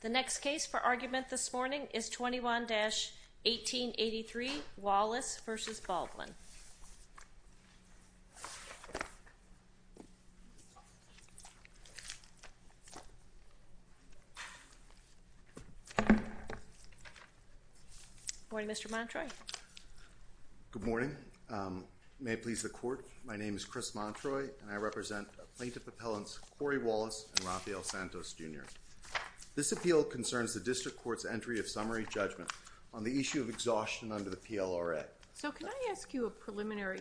The next case for argument this morning is 21-1883, Wallace v. Baldwin. Good morning Mr. Montroy Good morning. May it please the court, my name is Chris Montroy and I represent plaintiff appellants Corrie Wallace and Rafael Santos, Jr. This appeal concerns the district court's entry of summary judgment on the issue of preliminary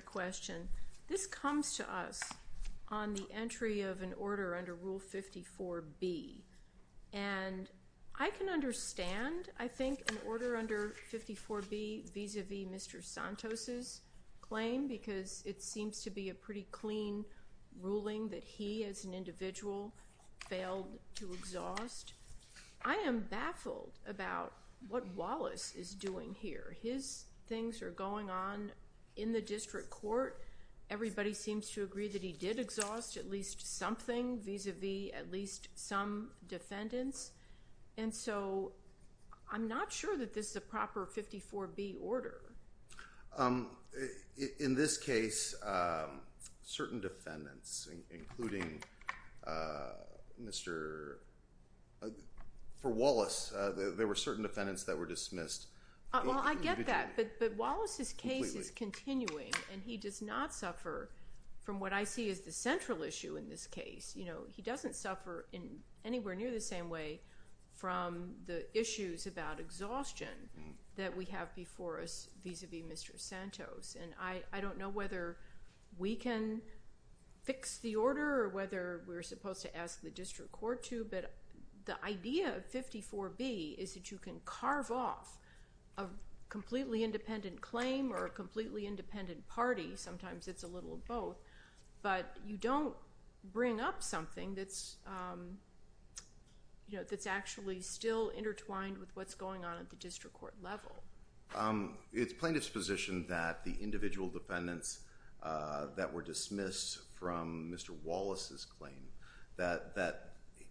question. This comes to us on the entry of an order under Rule 54B and I can understand I think an order under 54B vis-a-vis Mr. Santos' claim because it seems to be a pretty clean ruling that he as an individual failed to exhaust. I am baffled about what Wallace is doing here. His things are going on in the district court. Everybody seems to agree that he did exhaust at least something vis-a-vis at least some defendants. And so I'm not sure that this is a proper 54B order. In this case, certain defendants including Mr.... for Wallace there were certain defendants that were dismissed. Well, I get that, but Wallace's case is continuing and he does not suffer from what I see as the central issue in this case. He doesn't suffer in anywhere near the same way from the issues about exhaustion that we have before us vis-a-vis Mr. Santos and I don't know whether we can fix the order or whether we're supposed to ask the district court to but the idea of 54B is that you can carve off a completely independent claim or a completely independent party. Sometimes it's a little of both, but you don't bring up something that's actually still intertwined with what's going on at the district court level. It's plain disposition that the individual defendants that were dismissed from Mr. Wallace's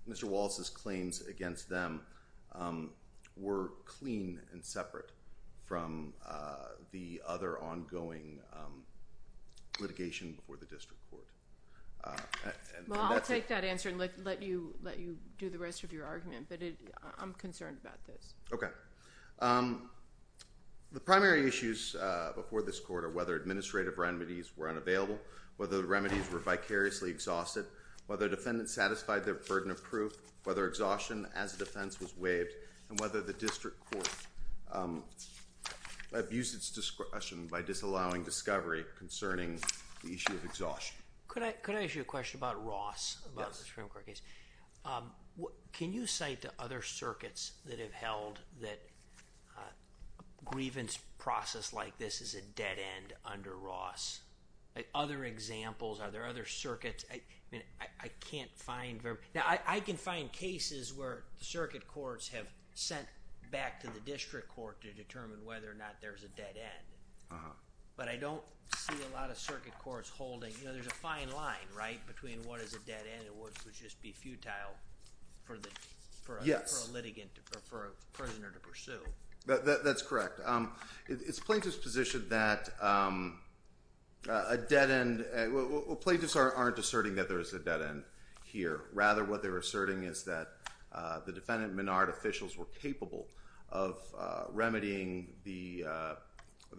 Mr. Wallace's claims against them were clean and separate from the other ongoing litigation before the district court. Well, I'll take that answer and let you do the rest of your argument, but I'm concerned about this. Okay. The primary issues before this court are whether administrative remedies were unavailable, whether the remedies were vicariously exhausted, whether defendants satisfied their burden of proof, whether exhaustion as a defense was waived, and whether the district court abused its discretion by disallowing discovery concerning the issue of exhaustion. Could I ask you a question about Ross, about the Supreme Court case? Can you say to other circuits that have held that a grievance process like this is a dead end under Ross? Other examples? Are there other circuits? I mean, I can't find very... Now, I can find cases where the circuit courts have sent back to the district court to determine whether or not there's a dead end, but I don't see a lot of circuit courts holding... You know, there's a fine line, right, between what is a dead end and what would just be futile for a litigant or for a prisoner to pursue. That's correct. It's plaintiff's position that a dead end... well, plaintiffs aren't asserting that there is a dead end here. Rather, what they're asserting is that the defendant and Menard officials were capable of remedying the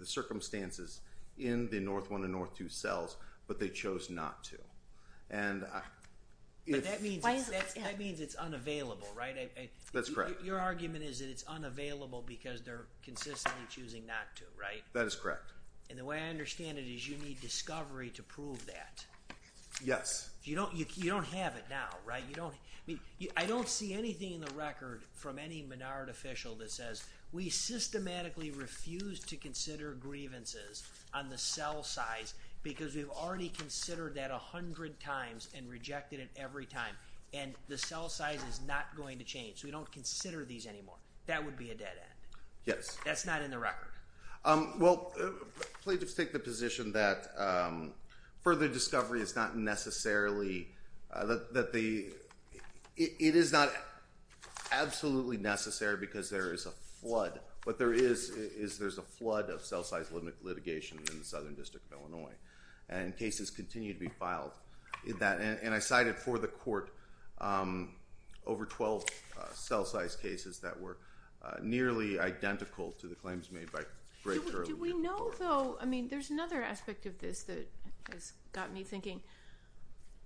circumstances in the North 1 and North 2 cells, but they chose not to. And if... But that means it's unavailable, right? That's correct. Your argument is that it's unavailable because they're consistently choosing not to, right? That is correct. And the way I understand it is you need discovery to prove that. Yes. You don't have it now, right? I don't see anything in the record from any Menard official that says, we systematically refuse to consider grievances on the cell size because we've already considered that a hundred times and rejected it every time, and the cell size is not going to change. We don't consider these anymore. That would be a dead end. Yes. That's not in the record. Well, plaintiffs take the position that further discovery is not necessarily... that the... it is not absolutely necessary because there is a flood. What there is, is there's a flood of cell size limit litigation in the Southern District of Illinois, and cases continue to be filed in that. And I cited for the court over 12 cell size cases that were nearly identical to the claims made by... Do we know, though... I mean, there's another aspect of this that has got me thinking.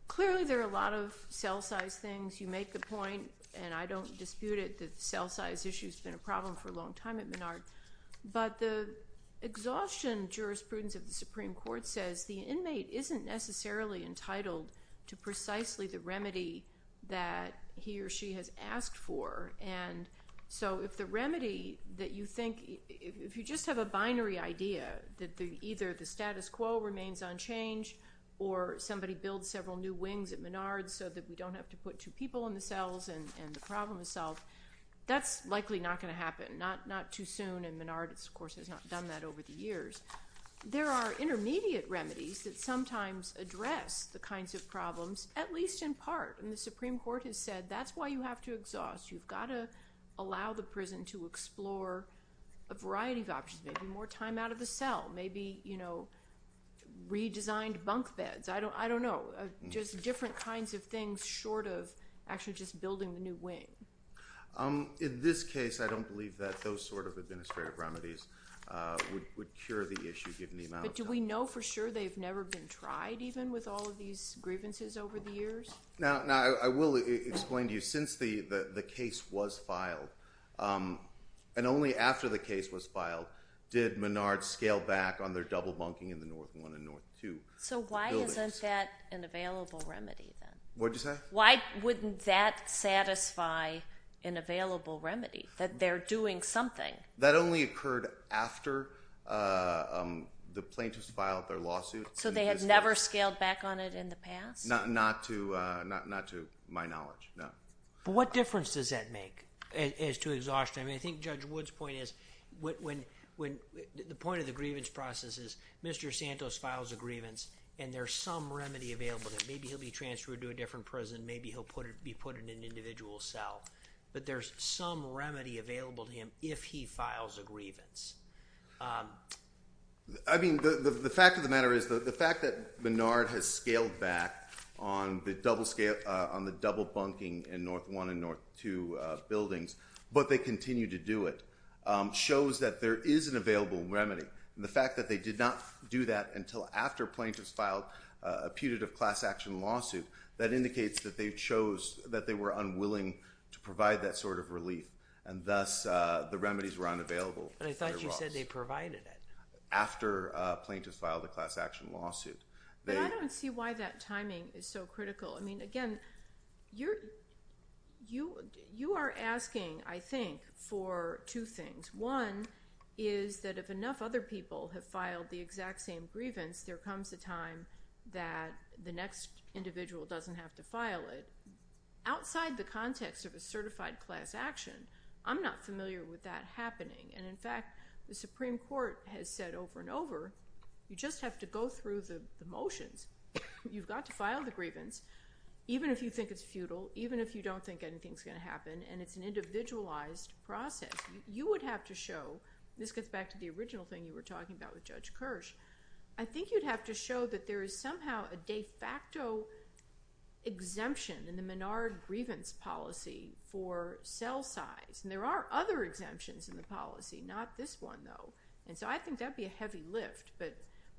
Clearly there are a lot of cell size things. You make the point, and I don't dispute it, that the cell size issue has been a problem for a long time at Menard. But the exhaustion jurisprudence of the Supreme Court says the inmate isn't necessarily entitled to precisely the remedy that he or she has asked for. And so, if the remedy that you think... if you just have a binary idea that either the status quo remains unchanged, or somebody builds several new wings at Menard so that we don't have to put two people in the cells and the problem is solved, that's likely not going to happen. Not too soon, and Menard, of course, has not done that over the years. There are intermediate remedies that sometimes address the kinds of problems, at least in part. And the Supreme Court has said that's why you have to exhaust. You've got to allow the prison to explore a variety of options, maybe more time out of the cell, maybe, you know, redesigned bunk beds. I don't know. Just different kinds of things short of actually just building the new wing. In this case, I don't believe that those sort of administrative remedies would cure the issue, given the amount of time. But do we know for sure they've never been tried, even, with all of these grievances over the years? Now, I will explain to you, since the case was filed, and only after the case was filed, did Menard scale back on their double bunking in the North 1 and North 2 buildings. So why isn't that an available remedy, then? What did you say? Why wouldn't that satisfy an available remedy, that they're doing something? That only occurred after the plaintiffs filed their lawsuit. So they had never scaled back on it in the past? Not to my knowledge, no. But what difference does that make, as to exhaustion? I mean, I think Judge Wood's point is, the point of the grievance process is Mr. Santos files a grievance, and there's some remedy available that maybe he'll be transferred to a different prison, maybe he'll be put in an individual cell. But there's some remedy available to him if he files a grievance. I mean, the fact of the matter is, the fact that Menard has scaled back on the double bunking in North 1 and North 2 buildings, but they continue to do it, shows that there is an available remedy. The fact that they did not do that until after plaintiffs filed a putative class action lawsuit that indicates that they chose, that they were unwilling to provide that sort of relief. And thus, the remedies were unavailable. But I thought you said they provided it. After plaintiffs filed a class action lawsuit. But I don't see why that timing is so critical. I mean, again, you are asking, I think, for two things. One is that if enough other people have filed the exact same grievance, there comes a time that the next individual doesn't have to file it. Outside the context of a certified class action, I'm not familiar with that happening. And in fact, the Supreme Court has said over and over, you just have to go through the motions. You've got to file the grievance, even if you think it's futile, even if you don't think anything's going to happen, and it's an individualized process. You would have to show, this gets back to the original thing you were talking about with Judge Kirsch, I think you'd have to show that there is somehow a de facto exemption in the Menard grievance policy for cell size. And there are other exemptions in the policy, not this one, though. And so I think that'd be a heavy lift. But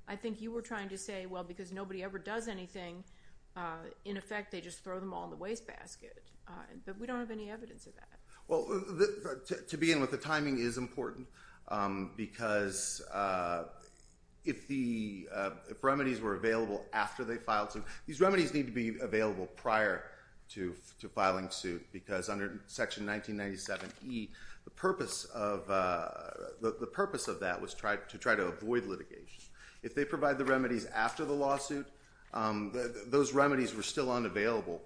I think you were trying to say, well, because nobody ever does anything, in effect, they just throw them all in the wastebasket. But we don't have any evidence of that. Well, to begin with, the timing is important. Because if the remedies were available after they filed suit, these remedies need to be available prior to filing suit. Because under Section 1997E, the purpose of that was to try to avoid litigation. If they provide the remedies after the lawsuit, those remedies were still unavailable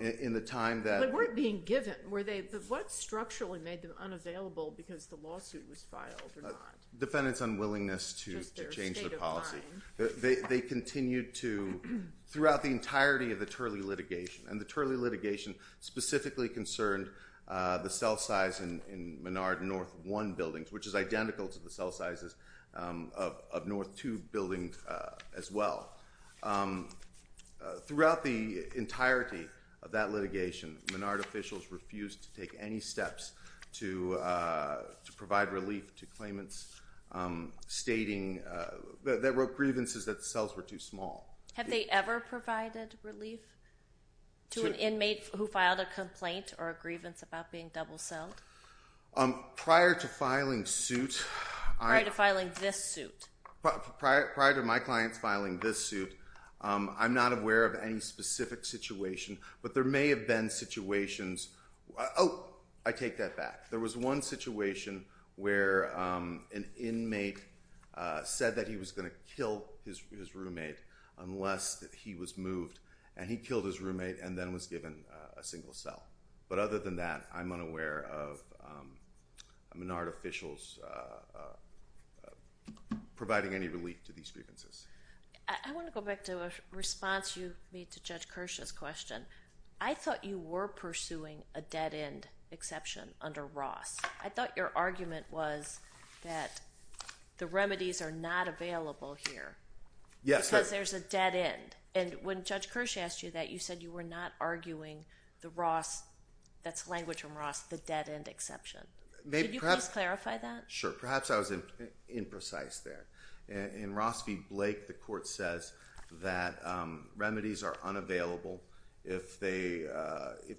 in the time They weren't being given. What structurally made them unavailable because the lawsuit was filed or not? Defendants' unwillingness to change the policy. They continued to, throughout the entirety of the Turley litigation, and the Turley litigation specifically concerned the cell size in Menard North 1 buildings, which is identical to the cell sizes of North 2 buildings as well. Throughout the entirety of that litigation, Menard officials refused to take any steps to provide relief to claimants stating that there were grievances that the cells were too small. Have they ever provided relief to an inmate who filed a complaint or a grievance about being double-celled? Prior to filing suit. Prior to filing this suit. Prior to my clients filing this suit, I'm not aware of any specific situation. But there may have been situations. Oh, I take that back. There was one situation where an inmate said that he was going to kill his roommate unless he was moved. And he killed his roommate and then was given a single cell. But other than that, I'm unaware of Menard officials providing any relief to these grievances. I want to go back to a response you made to Judge Kirsch's question. I thought you were pursuing a dead-end exception under Ross. I thought your argument was that the remedies are not available here. Yes. Because there's a dead-end. And when Judge Kirsch asked you that, you said you were not arguing the Ross, that's language from Ross, the dead-end exception. Can you please clarify that? Sure. Perhaps I was imprecise there. In Ross v. Blake, the court says that remedies are unavailable if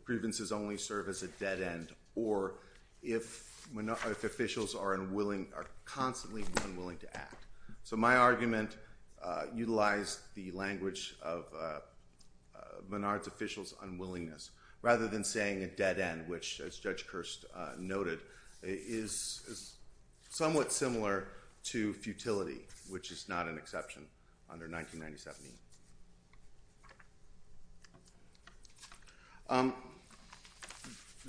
grievances only serve as a dead-end or if officials are constantly unwilling to act. So my argument utilized the language of Menard's officials' unwillingness rather than saying a dead-end, which, as Judge Kirsch noted, is somewhat similar to futility, which is not an exception under 1997E.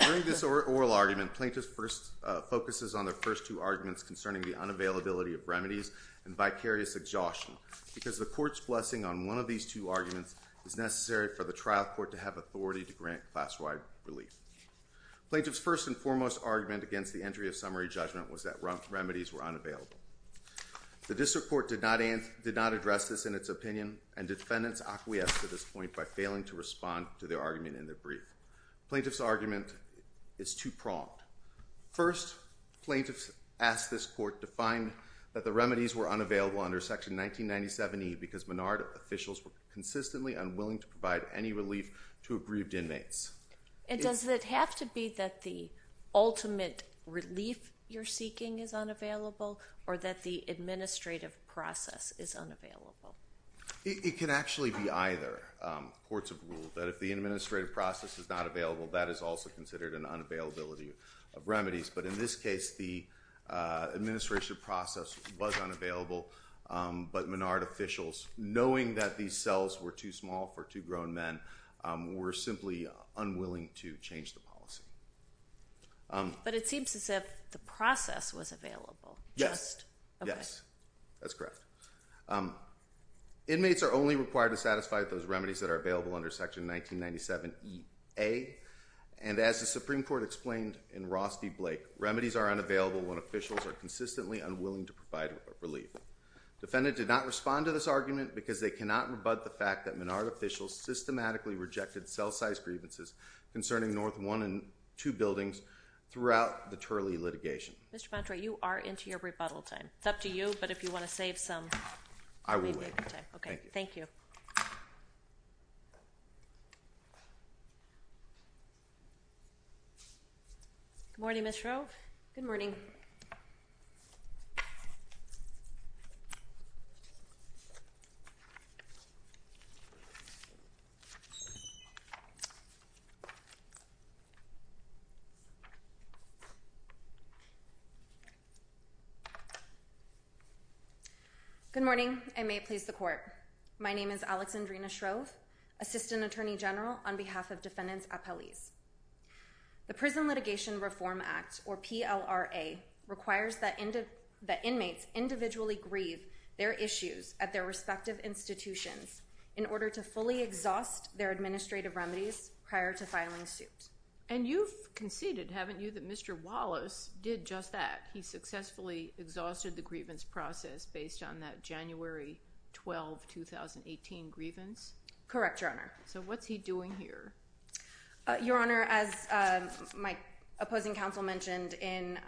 During this oral argument, Plaintiff first focuses on the first two arguments concerning the unavailability of remedies and vicarious exhaustion, because the court's blessing on one of these two arguments is necessary for the trial court to have authority to grant class-wide relief. Plaintiff's first and foremost argument against the entry of summary judgment was that remedies were unavailable. The district court did not address this in its opinion, and defendants acquiesced to this point by failing to respond to their argument in their brief. Plaintiff's argument is two-pronged. First, Plaintiff asked this court to find that the remedies were unavailable under Section 1997E because Menard officials were consistently unwilling to provide any relief to aggrieved inmates. And does it have to be that the ultimate relief you're seeking is unavailable, or that the administrative process is unavailable? It can actually be either. Courts have ruled that if the administrative process is not available, that is also considered an unavailability of remedies. But in this case, the administrative process was unavailable. But Menard officials, knowing that these cells were too small for two grown men, were simply unwilling to change the policy. But it seems as if the process was available. Yes. Yes. That's correct. Inmates are only required to satisfy those remedies that are available under Section 1997EA. And as the Supreme Court explained in Ross v. Blake, remedies are unavailable when officials are consistently unwilling to provide relief. Defendant did not respond to this argument because they cannot rebut the fact that Menard officials systematically rejected cell-size grievances concerning North 1 and 2 buildings throughout the Turley litigation. Mr. Montrey, you are into your rebuttal time. It's up to you, but if you want to save some, that may be a good time. I will wait. Thank you. Good morning, Ms. Shrove. Good morning. Good morning. I may please the Court. My name is Alexandrina Shrove, Assistant Attorney General on behalf of Defendants Appellees. The Prison Litigation Reform Act, or PLRA, requires that inmates individually grieve their issues at their respective institutions in order to fully exhaust their administrative remedies prior to filing suit. And you've conceded, haven't you, that Mr. Wallace did just that. He successfully exhausted the grievance process based on that January 12, 2018 grievance? Correct, Your Honor. So what's he doing here? Your Honor, as my opposing counsel mentioned in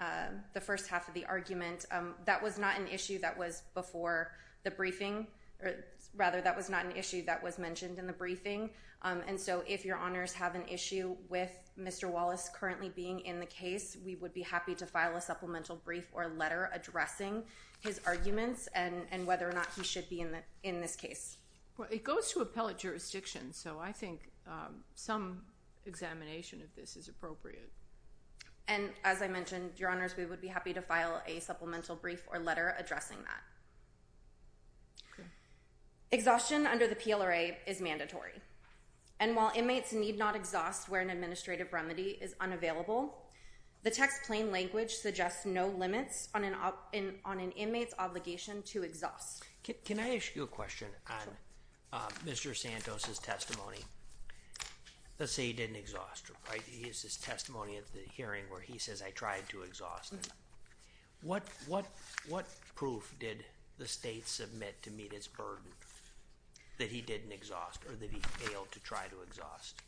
the first half of the argument, that was not an issue that was before the briefing, or rather, that was not an issue that was mentioned in the briefing. And so if Your Honors have an issue with Mr. Wallace currently being in the case, we would be happy to file a supplemental brief or letter addressing his arguments and whether or not he should be in this case. It goes to appellate jurisdiction, so I think some examination of this is appropriate. And as I mentioned, Your Honors, we would be happy to file a supplemental brief or letter addressing that. Exhaustion under the PLRA is mandatory. And while inmates need not exhaust where an administrative remedy is unavailable, the text plain language suggests no limits on an inmate's obligation to exhaust. Can I ask you a question on Mr. Santos' testimony? Let's say he didn't exhaust, right? He has this testimony at the hearing where he says, I tried to exhaust. What proof did the state submit to meet its burden that he didn't exhaust or that he failed to try to exhaust?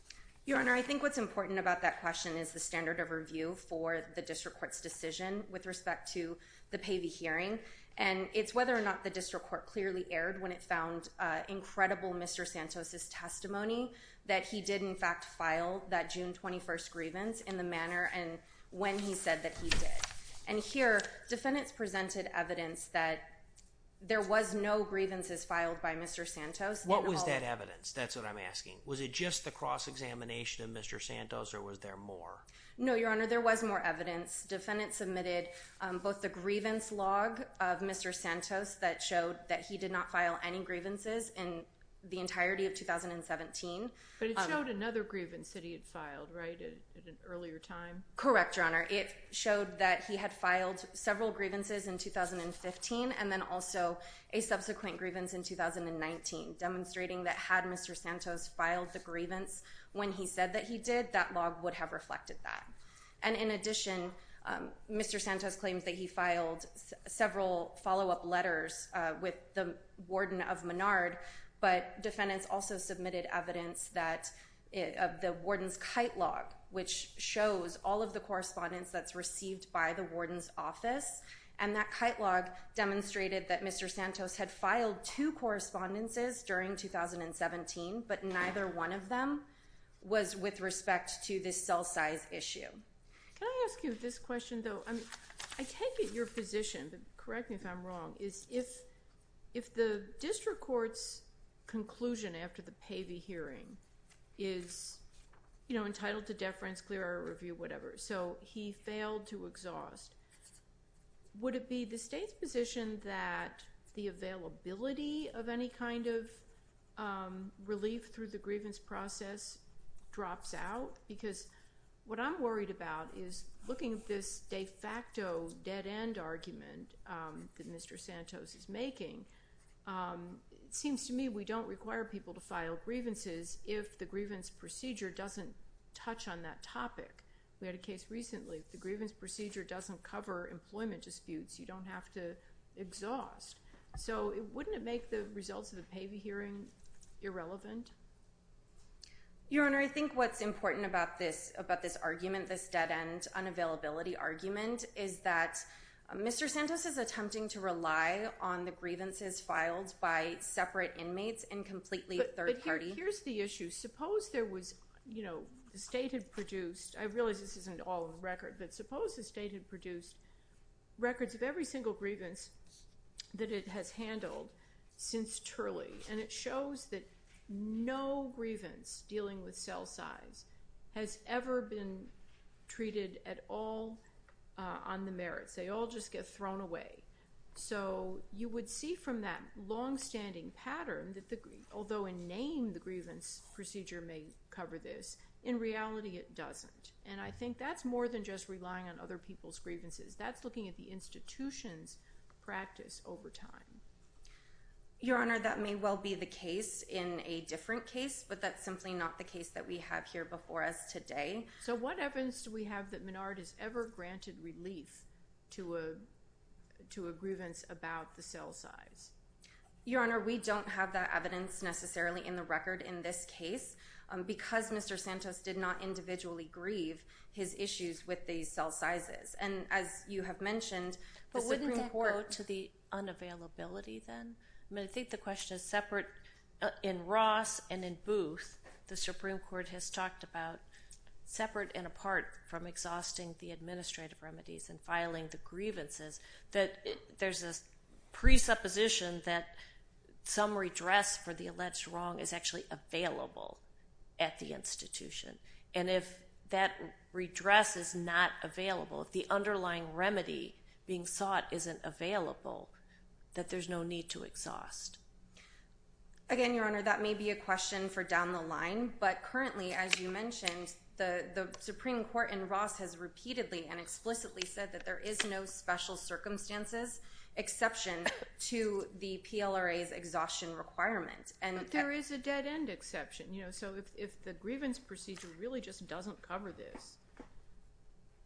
Your Honor, I think what's important about that question is the standard of review for the district court's decision with respect to the Pavey hearing. And it's whether or not the district court clearly erred when it found incredible Mr. Santos' testimony that he did in fact file that June 21st grievance in the manner and when he said that he did. And here, defendants presented evidence that there was no grievances filed by Mr. Santos. What was that evidence? That's what I'm asking. Was it just the cross-examination of Mr. Santos or was there more? No, Your Honor, there was more evidence. Defendants submitted both the grievance log of Mr. Santos that showed that he did not file any grievances in the entirety of 2017. But it showed another grievance that he had filed, right, at an earlier time? Correct, Your Honor. It showed that he had filed several grievances in 2015 and then also a subsequent grievance in 2019, demonstrating that had Mr. Santos filed the grievance when he said that he did, that log would have reflected that. And in addition, Mr. Santos claims that he filed several follow-up letters with the warden of Menard, but defendants also submitted evidence of the warden's kite log, which shows all of the correspondence that's received by the warden's office. And that kite log demonstrated that Mr. Santos had filed two correspondences during 2017, but neither one of them was with respect to this cell size issue. Can I ask you this question, though? I mean, I take it your position, but correct me if I'm wrong, is if the district court's conclusion after the Pavey hearing is, you know, entitled to deference, clear our review, whatever, so he failed to exhaust, would it be the state's position that the availability of any kind of relief through the grievance process drops out? Because what I'm worried about is looking at this de facto dead-end argument that Mr. Santos is making, it seems to me we don't require people to file grievances if the grievance procedure doesn't touch on that topic. We had a case recently. The grievance procedure doesn't cover employment disputes. You don't have to exhaust. So wouldn't it make the results of the Pavey hearing irrelevant? Your Honor, I think what's important about this argument, this dead-end unavailability argument, is that Mr. Santos is attempting to rely on the grievances filed by separate inmates and completely third-party. Here's the issue. Suppose there was, you know, the state had produced, I realize this isn't all on record, but suppose the state had produced records of every single grievance that it has handled since Turley, and it shows that no grievance dealing with cell size has ever been treated at all on the merits. They all just get thrown away. So you would see from that long-standing pattern that, although in name the grievance procedure may cover this, in reality it doesn't. And I think that's more than just relying on other people's grievances. That's looking at the institution's practice over time. Your Honor, that may well be the case in a different case, but that's simply not the case that we have here before us today. So what evidence do we have that Menard has ever granted relief to a grievance about the cell size? Your Honor, we don't have that evidence necessarily in the record in this case because Mr. Santos did not individually grieve his issues with these cell sizes. And as you have mentioned, the Supreme Court— But wouldn't that go to the unavailability then? I mean, I think the question is separate. In Ross and in Booth, the Supreme Court has talked about, separate and apart from exhausting the administrative remedies and filing the grievances, that there's this presupposition that some redress for the alleged wrong is actually available at the institution. And if that redress is not available, if the underlying remedy being sought isn't available, that there's no need to exhaust. Again, Your Honor, that may be a question for down the line. But currently, as you mentioned, the Supreme Court in Ross has repeatedly and explicitly said that there is no special circumstances exception to the PLRA's exhaustion requirement. But there is a dead-end exception. So if the grievance procedure really just doesn't cover this,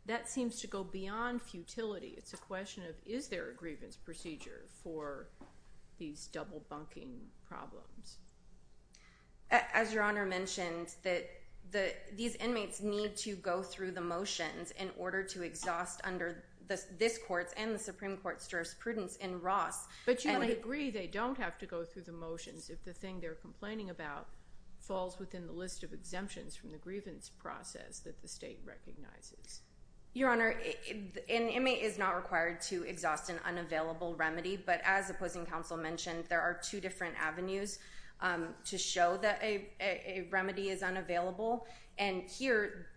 that seems to go beyond futility. It's a question of, is there a grievance procedure for these double-bunking problems? As Your Honor mentioned, these inmates need to go through the motions in order to exhaust under this Court's and the Supreme Court's jurisprudence in Ross. But to an degree, they don't have to go through the motions if the thing they're complaining about falls within the list of exemptions from the grievance process that the state recognizes. Your Honor, an inmate is not required to exhaust an unavailable remedy. But as opposing counsel mentioned, there are two different avenues to show that a remedy is unavailable. And here,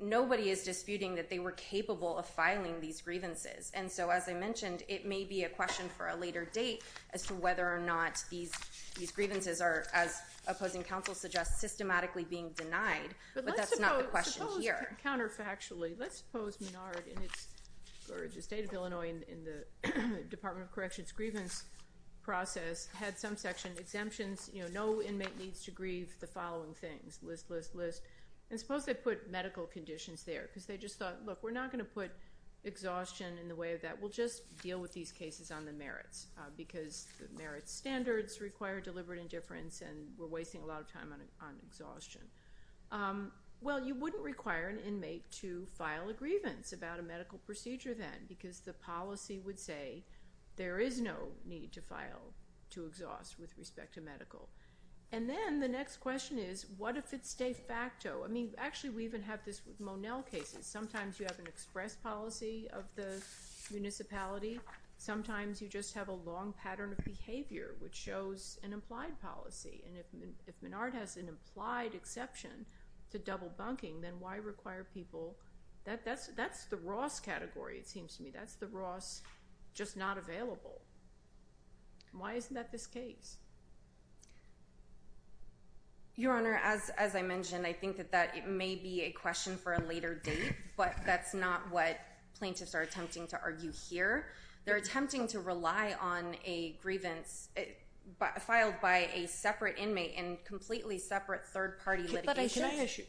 nobody is disputing that they were capable of filing these grievances. And so as I mentioned, it may be a question for a later date as to whether or not these grievances are, as opposing counsel suggests, systematically being denied. But that's not the question here. Counterfactually, let's suppose Menard or the state of Illinois in the Department of Corrections grievance process had some section exemptions, you know, no inmate needs to grieve the following things, list, list, list. And suppose they put medical conditions there because they just thought, look, we're not going to put exhaustion in the way of that. We'll just deal with these cases on the merits because the merits standards require deliberate indifference and we're wasting a lot of time on exhaustion. Well, you wouldn't require an inmate to file a grievance about a medical procedure then because the policy would say there is no need to file to exhaust with respect to medical. And then the next question is, what if it's de facto? I mean, actually, we even have this with Monel cases. Sometimes you have an express policy of the municipality. Sometimes you just have a long pattern of behavior which shows an implied policy. And if Menard has an implied exception to double bunking, then why require people? That's the Ross category, it seems to me. That's the Ross just not available. Why isn't that this case? Your Honor, as I mentioned, I think that it may be a question for a later date, but that's not what plaintiffs are attempting to argue here. They're attempting to rely on a grievance filed by a separate inmate and completely separate third-party litigation. Can I ask you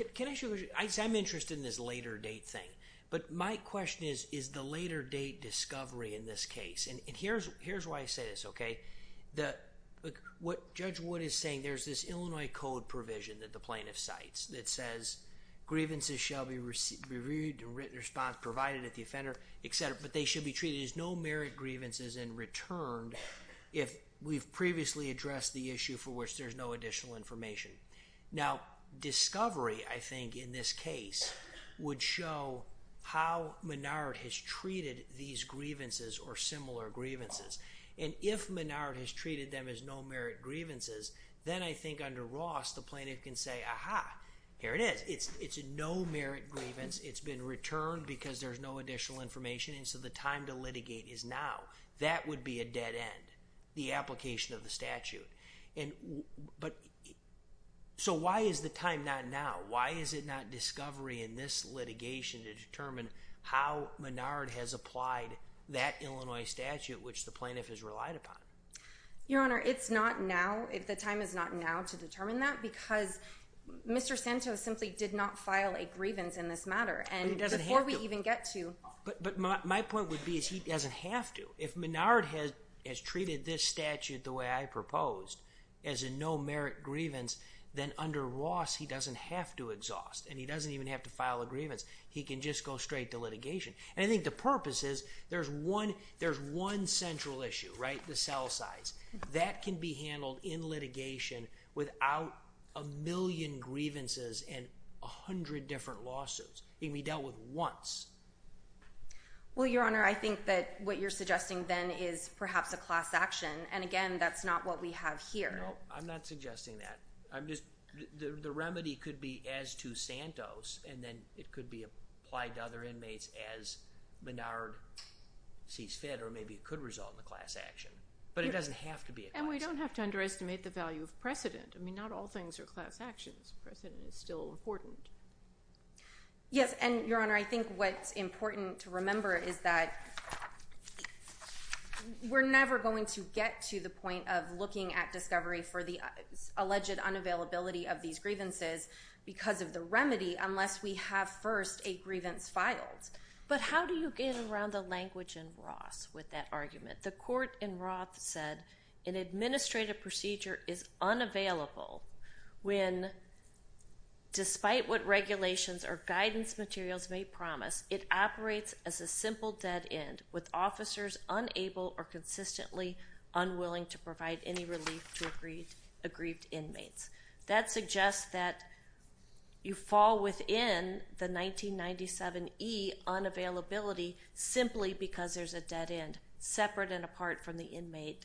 a question? I'm interested in this later date thing, but my question is, is the later date discovery in this case? And here's why I say this, okay? Judge Wood is saying there's this Illinois Code provision that the plaintiff cites that says grievances shall be reviewed and written response provided at the offender, et cetera, but they should be treated as no-merit grievances and returned if we've previously addressed the issue for which there's no additional information. Now, discovery, I think, in this case would show how Menard has treated these grievances or similar grievances. And if Menard has treated them as no-merit grievances, then I think under Ross, the plaintiff can say, aha, here it is. It's a no-merit grievance. It's been returned because there's no additional information, and so the time to litigate is now. That would be a dead end, the application of the statute. So why is the time not now? Why is it not discovery in this litigation to determine how Menard has applied that Illinois statute, which the plaintiff has relied upon? Your Honor, it's not now. The time is not now to determine that because Mr. Santo simply did not file a grievance in this matter. And before we even get to— But my point would be is he doesn't have to. If Menard has treated this statute the way I proposed as a no-merit grievance, then under Ross, he doesn't have to exhaust, and he doesn't even have to file a grievance. He can just go straight to litigation. And I think the purpose is there's one central issue, right? The cell size. That can be handled in litigation without a million grievances and a hundred different lawsuits. It can be dealt with once. Well, Your Honor, I think that what you're suggesting then is perhaps a class action. And again, that's not what we have here. No, I'm not suggesting that. I'm just—the remedy could be as to Santos, and then it could be applied to other inmates as Menard sees fit, or maybe it could result in a class action. But it doesn't have to be a class action. And we don't have to underestimate the value of precedent. I mean, not all things are class actions. Precedent is still important. Yes, and Your Honor, I think what's important to remember is that we're never going to get to the point of looking at discovery for the alleged unavailability of these grievances because of the remedy unless we have first a grievance filed. But how do you get around the language in Ross with that argument? The court in Roth said an administrative procedure is unavailable when, despite what regulations or guidance materials may promise, it operates as a simple dead end with officers unable or consistently unwilling to provide any relief to aggrieved inmates. That suggests that you fall within the 1997e unavailability simply because there's a dead end apart from the inmate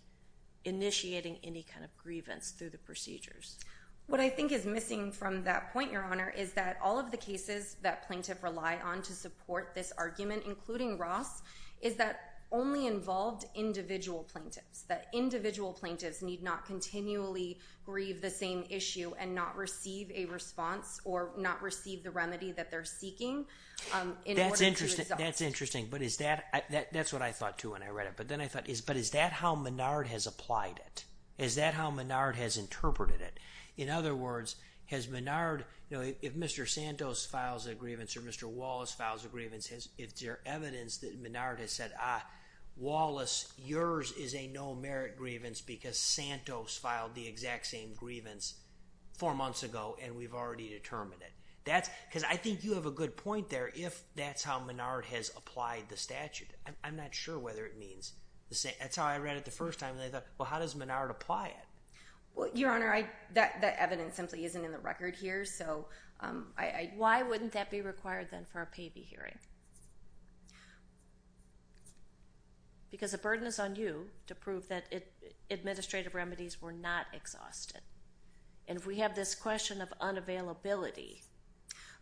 initiating any kind of grievance through the procedures. What I think is missing from that point, Your Honor, is that all of the cases that plaintiff rely on to support this argument, including Ross, is that only involved individual plaintiffs, that individual plaintiffs need not continually grieve the same issue and not receive a response or not receive the remedy that they're seeking in order to resolve it. That's interesting. That's what I thought too when I read it. But is that how Menard has applied it? Is that how Menard has interpreted it? In other words, if Mr. Santos files a grievance or Mr. Wallace files a grievance, is there evidence that Menard has said, ah, Wallace, yours is a no merit grievance because Santos filed the exact same grievance four months ago and we've already determined it? I think you have a good point there if that's how Menard has applied the statute. I'm not sure whether it means the same. That's how I read it the first time. And I thought, well, how does Menard apply it? Well, Your Honor, that evidence simply isn't in the record here. So why wouldn't that be required then for a payee hearing? Because the burden is on you to prove that administrative remedies were not exhausted. And if we have this question of unavailability.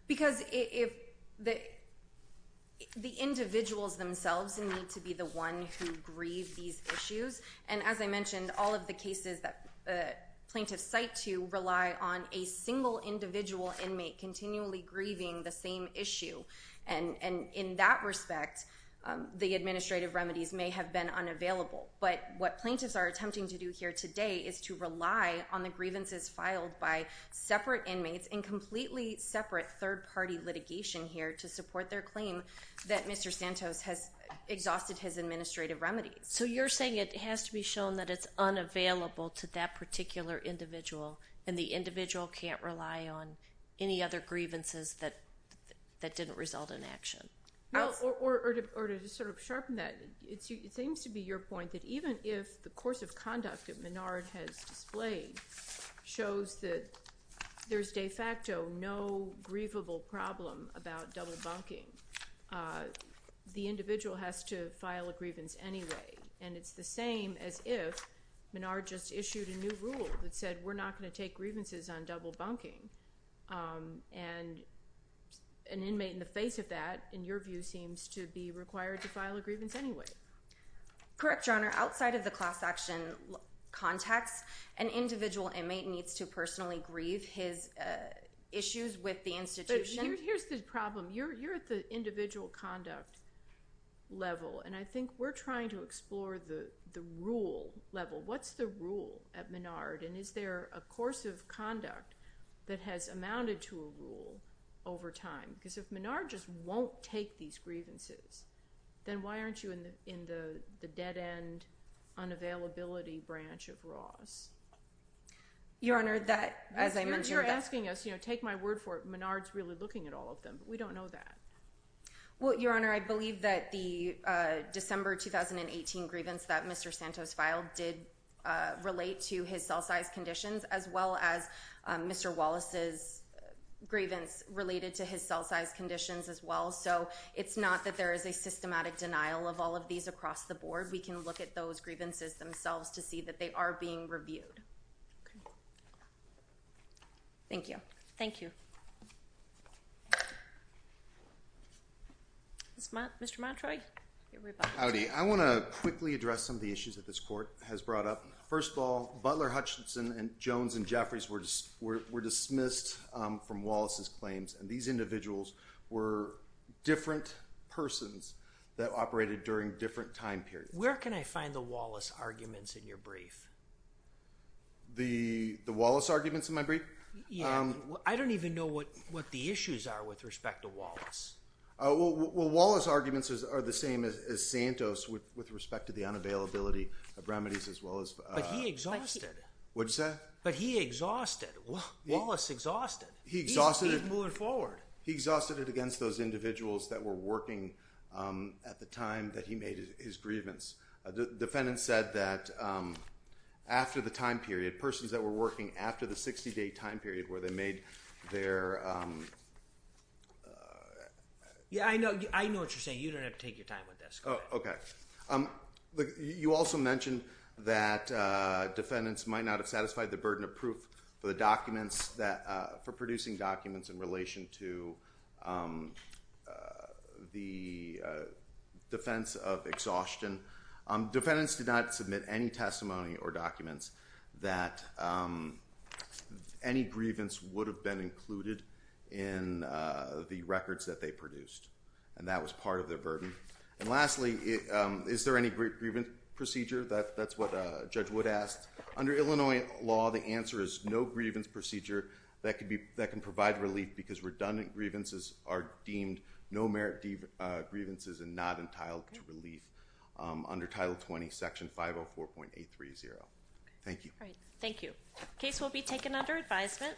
Because if the individuals themselves need to be the one who grieve these issues, and as I mentioned, all of the cases that plaintiffs cite to rely on a single individual inmate continually grieving the same issue. And in that respect, the administrative remedies may have been unavailable. But what plaintiffs are attempting to do here today is to rely on the grievances filed by separate inmates and completely separate third-party litigation here to support their claim that Mr. Santos has exhausted his administrative remedies. So you're saying it has to be shown that it's unavailable to that particular individual and the individual can't rely on any other grievances that didn't result in action? Or to just sort of sharpen that, it seems to be your point that even if the course of there's de facto no grievable problem about double bunking, the individual has to file a grievance anyway. And it's the same as if Menard just issued a new rule that said we're not going to take grievances on double bunking. And an inmate in the face of that, in your view, seems to be required to file a grievance anyway. Correct, Your Honor. Outside of the class action context, an individual inmate needs to personally grieve his issues with the institution. But here's the problem. You're at the individual conduct level. And I think we're trying to explore the rule level. What's the rule at Menard? And is there a course of conduct that has amounted to a rule over time? Because if Menard just won't take these grievances, then why aren't you in the dead end, unavailability branch of Ross? Your Honor, that, as I mentioned, you're asking us, you know, take my word for it, Menard's really looking at all of them. But we don't know that. Well, Your Honor, I believe that the December 2018 grievance that Mr. Santos filed did relate to his cell size conditions as well as Mr. Wallace's grievance related to his cell size conditions as well. So it's not that there is a systematic denial of all of these across the board. We can look at those grievances themselves to see that they are being reviewed. Thank you. Thank you. Mr. Montroy. Howdy. I want to quickly address some of the issues that this court has brought up. First of all, Butler, Hutchinson, and Jones, and Jeffries were dismissed from Wallace's claims, and these individuals were different persons that operated during different time periods. Where can I find the Wallace arguments in your brief? The Wallace arguments in my brief? Yeah. I don't even know what the issues are with respect to Wallace. Well, Wallace's arguments are the same as Santos with respect to the unavailability of remedies as well as... But he exhausted. What'd you say? But he exhausted. Wallace exhausted. He exhausted it. He's moving forward. He exhausted it against those individuals that were working at the time that he made his grievance. Defendants said that after the time period, persons that were working after the 60-day time period where they made their... Yeah, I know what you're saying. You don't have to take your time with this. Oh, okay. But you also mentioned that defendants might not have satisfied the burden of proof for the documents that... For producing documents in relation to the defense of exhaustion. Defendants did not submit any testimony or documents that any grievance would have been included in the records that they produced, and that was part of their burden. And lastly, is there any grievance procedure? That's what Judge Wood asked. Under Illinois law, the answer is no grievance procedure that can provide relief because redundant grievances are deemed no merit grievances and not entitled to relief under Title 20, Section 504.830. Thank you. All right. Thank you. Case will be taken under advisement.